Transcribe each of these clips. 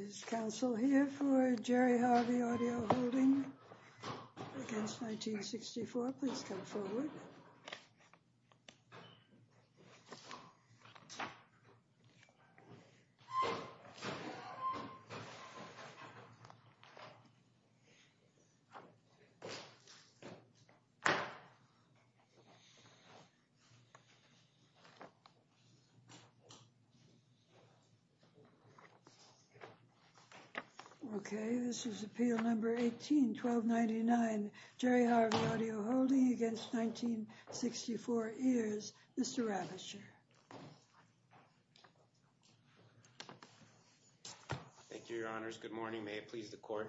Is counsel here for Jerry Harvey Audio Holding against 1964? Please come forward. Okay, this is Appeal Number 18-1299, Jerry Harvey Audio Holding against 1964 Ears, Mr. Ravitcher. Thank you, Your Honors. Good morning. May it please the Court,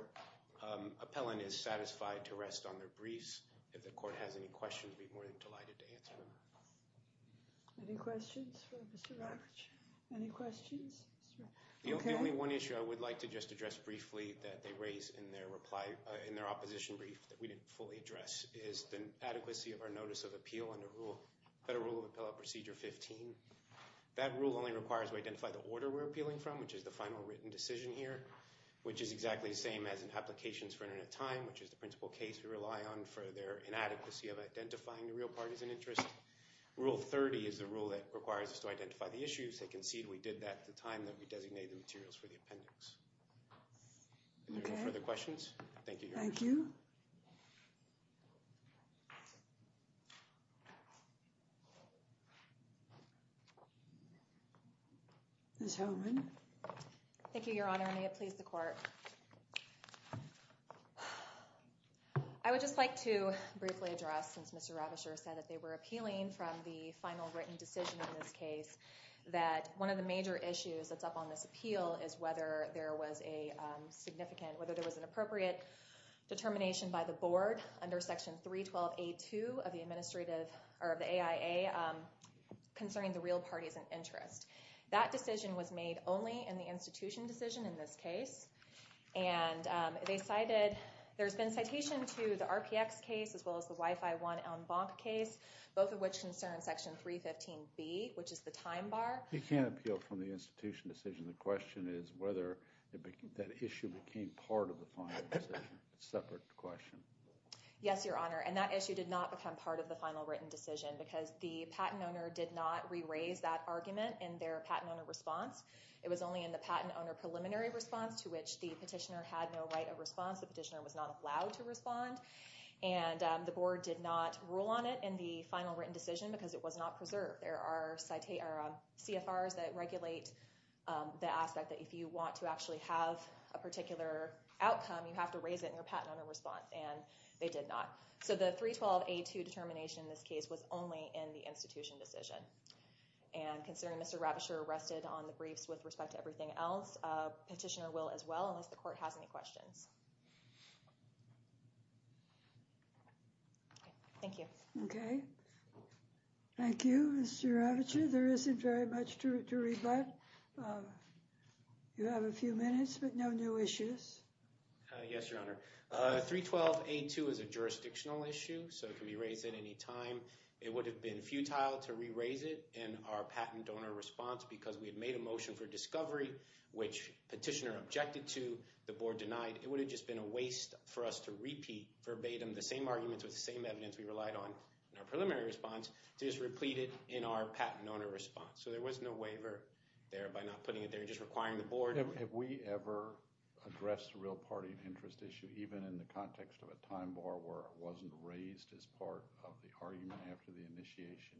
appellant is satisfied to rest on their briefs. If the Court has any questions, we'd be more than delighted to answer them. Any questions for Mr. Ravitcher? Any questions? The only one issue I would like to just address briefly that they raised in their opposition brief that we didn't fully address is the adequacy of our Notice of Appeal under Federal Rule of Appellate Procedure 15. That rule only requires we identify the order we're appealing from, which is the final written decision here, which is exactly the same as in Applications for Internet Time, which is the principal case we rely on for their inadequacy of identifying the real partisan interest. Rule 30 is the rule that requires us to identify the issues. They concede we did that at the time that we designated the materials for the appendix. Any further questions? Thank you, Your Honor. Thank you. Ms. Holman. I would just like to briefly address, since Mr. Ravitcher said that they were appealing from the final written decision in this case, that one of the major issues that's up on this appeal is whether there was a significant, whether there was an appropriate determination by the Board under Section 312A2 of the Administrative, or of the AIA, concerning the real partisan interest. That decision was made only in the institution decision in this case, and they cited, there's been citation to the RPX case as well as the Wi-Fi One en banc case, both of which concern Section 315B, which is the time bar. You can't appeal from the institution decision. The question is whether that issue became part of the final decision. It's a separate question. Yes, Your Honor, and that issue did not become part of the final written decision because the patent owner did not re-raise that argument in their patent owner response. It was only in the patent owner preliminary response to which the petitioner had no right of response. The petitioner was not allowed to respond, and the Board did not rule on it in the final written decision because it was not preserved. There are CFRs that regulate the aspect that if you want to actually have a particular outcome, you have to raise it in your patent owner response, and they did not. So the 312A2 determination in this case was only in the institution decision, and considering Mr. Ravitcher rested on the briefs with respect to everything else, petitioner will as well unless the court has any questions. Thank you. Okay. Thank you, Mr. Ravitcher. There isn't very much to read, but you have a few minutes, but no new issues. Yes, Your Honor. 312A2 is a jurisdictional issue, so it can be raised at any time. It would have been futile to re-raise it in our patent donor response because we had made a motion for discovery, which petitioner objected to, the Board denied. It would have just been a waste for us to repeat verbatim the same arguments with the same evidence we relied on in our preliminary response to just replete it in our patent owner response. So there was no waiver there by not putting it there, just requiring the Board. Have we ever addressed the real party and interest issue, even in the context of a time bar where it wasn't raised as part of the argument after the initiation?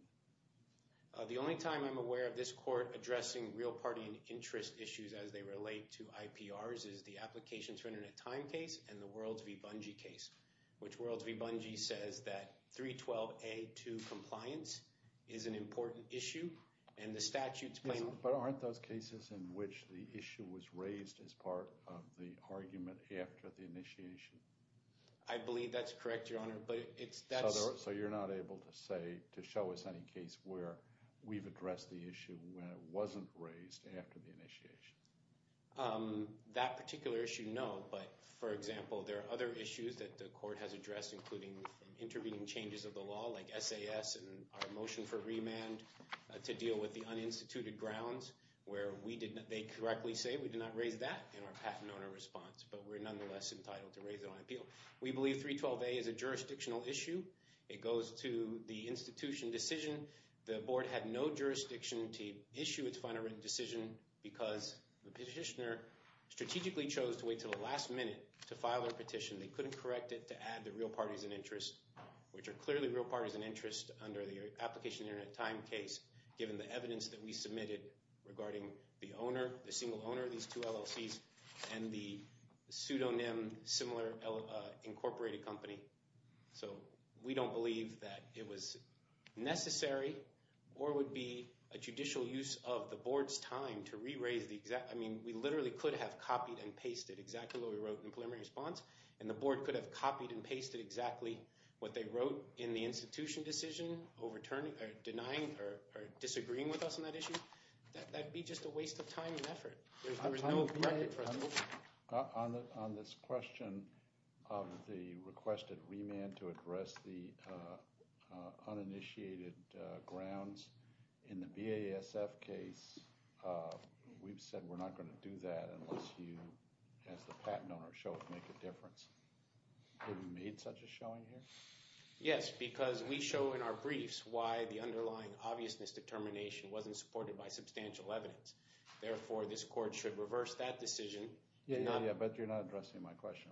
The only time I'm aware of this court addressing real party and interest issues as they relate to IPRs is the Applications for Internet Time case and the Worlds v. Bungie case, which Worlds v. Bungie says that 312A2 compliance is an important issue, and the statute's claim— that it was raised as part of the argument after the initiation? I believe that's correct, Your Honor, but it's— So you're not able to say—to show us any case where we've addressed the issue when it wasn't raised after the initiation? That particular issue, no, but, for example, there are other issues that the court has addressed, including intervening changes of the law like SAS and our motion for remand to deal with the uninstituted grounds where we did—they correctly say we did not raise that in our patent owner response, but we're nonetheless entitled to raise it on appeal. We believe 312A is a jurisdictional issue. It goes to the institution decision. The Board had no jurisdiction to issue its final written decision because the petitioner strategically chose to wait until the last minute to file their petition. They couldn't correct it to add the real parties and interest, which are clearly real parties and interest under the Application for Internet Time case, given the evidence that we submitted regarding the owner, the single owner of these two LLCs, and the pseudonym-similar incorporated company. So we don't believe that it was necessary or would be a judicial use of the Board's time to re-raise the exact— I mean, we literally could have copied and pasted exactly what we wrote in preliminary response, and the Board could have copied and pasted exactly what they wrote in the institution decision, denying or disagreeing with us on that issue. That would be just a waste of time and effort. There is no record for us to look at. On this question of the requested remand to address the uninitiated grounds, in the BASF case, we've said we're not going to do that unless you, as the patent owner, show it would make a difference. Have you made such a showing here? Yes, because we show in our briefs why the underlying obviousness determination wasn't supported by substantial evidence. Therefore, this Court should reverse that decision. Yeah, but you're not addressing my question.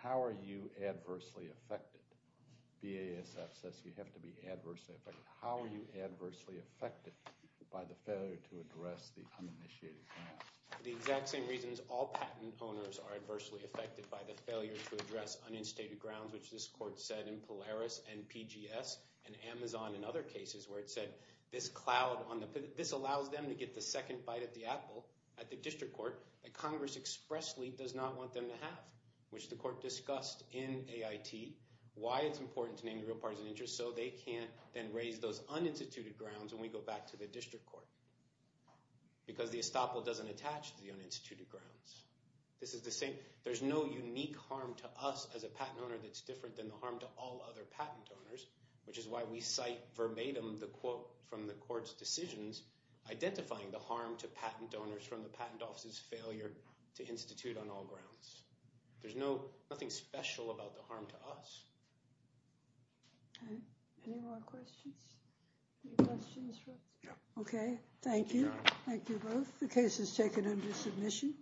How are you adversely affected? BASF says you have to be adversely affected. How are you adversely affected by the failure to address the uninitiated grounds? The exact same reasons all patent owners are adversely affected by the failure to address uninstated grounds, which this Court said in Polaris and PGS and Amazon and other cases, where it said this cloud on the – this allows them to get the second bite at the apple at the district court that Congress expressly does not want them to have, which the Court discussed in AIT, why it's important to name the real parties of interest so they can't then raise those uninstituted grounds when we go back to the district court, because the estoppel doesn't attach to the uninstituted grounds. This is the same – there's no unique harm to us as a patent owner that's different than the harm to all other patent owners, which is why we cite verbatim the quote from the Court's decisions identifying the harm to patent owners from the patent office's failure to institute on all grounds. There's nothing special about the harm to us. All right. Any more questions? Any questions for us? Yeah. Okay. Thank you. Thank you both. The case is taken under submission.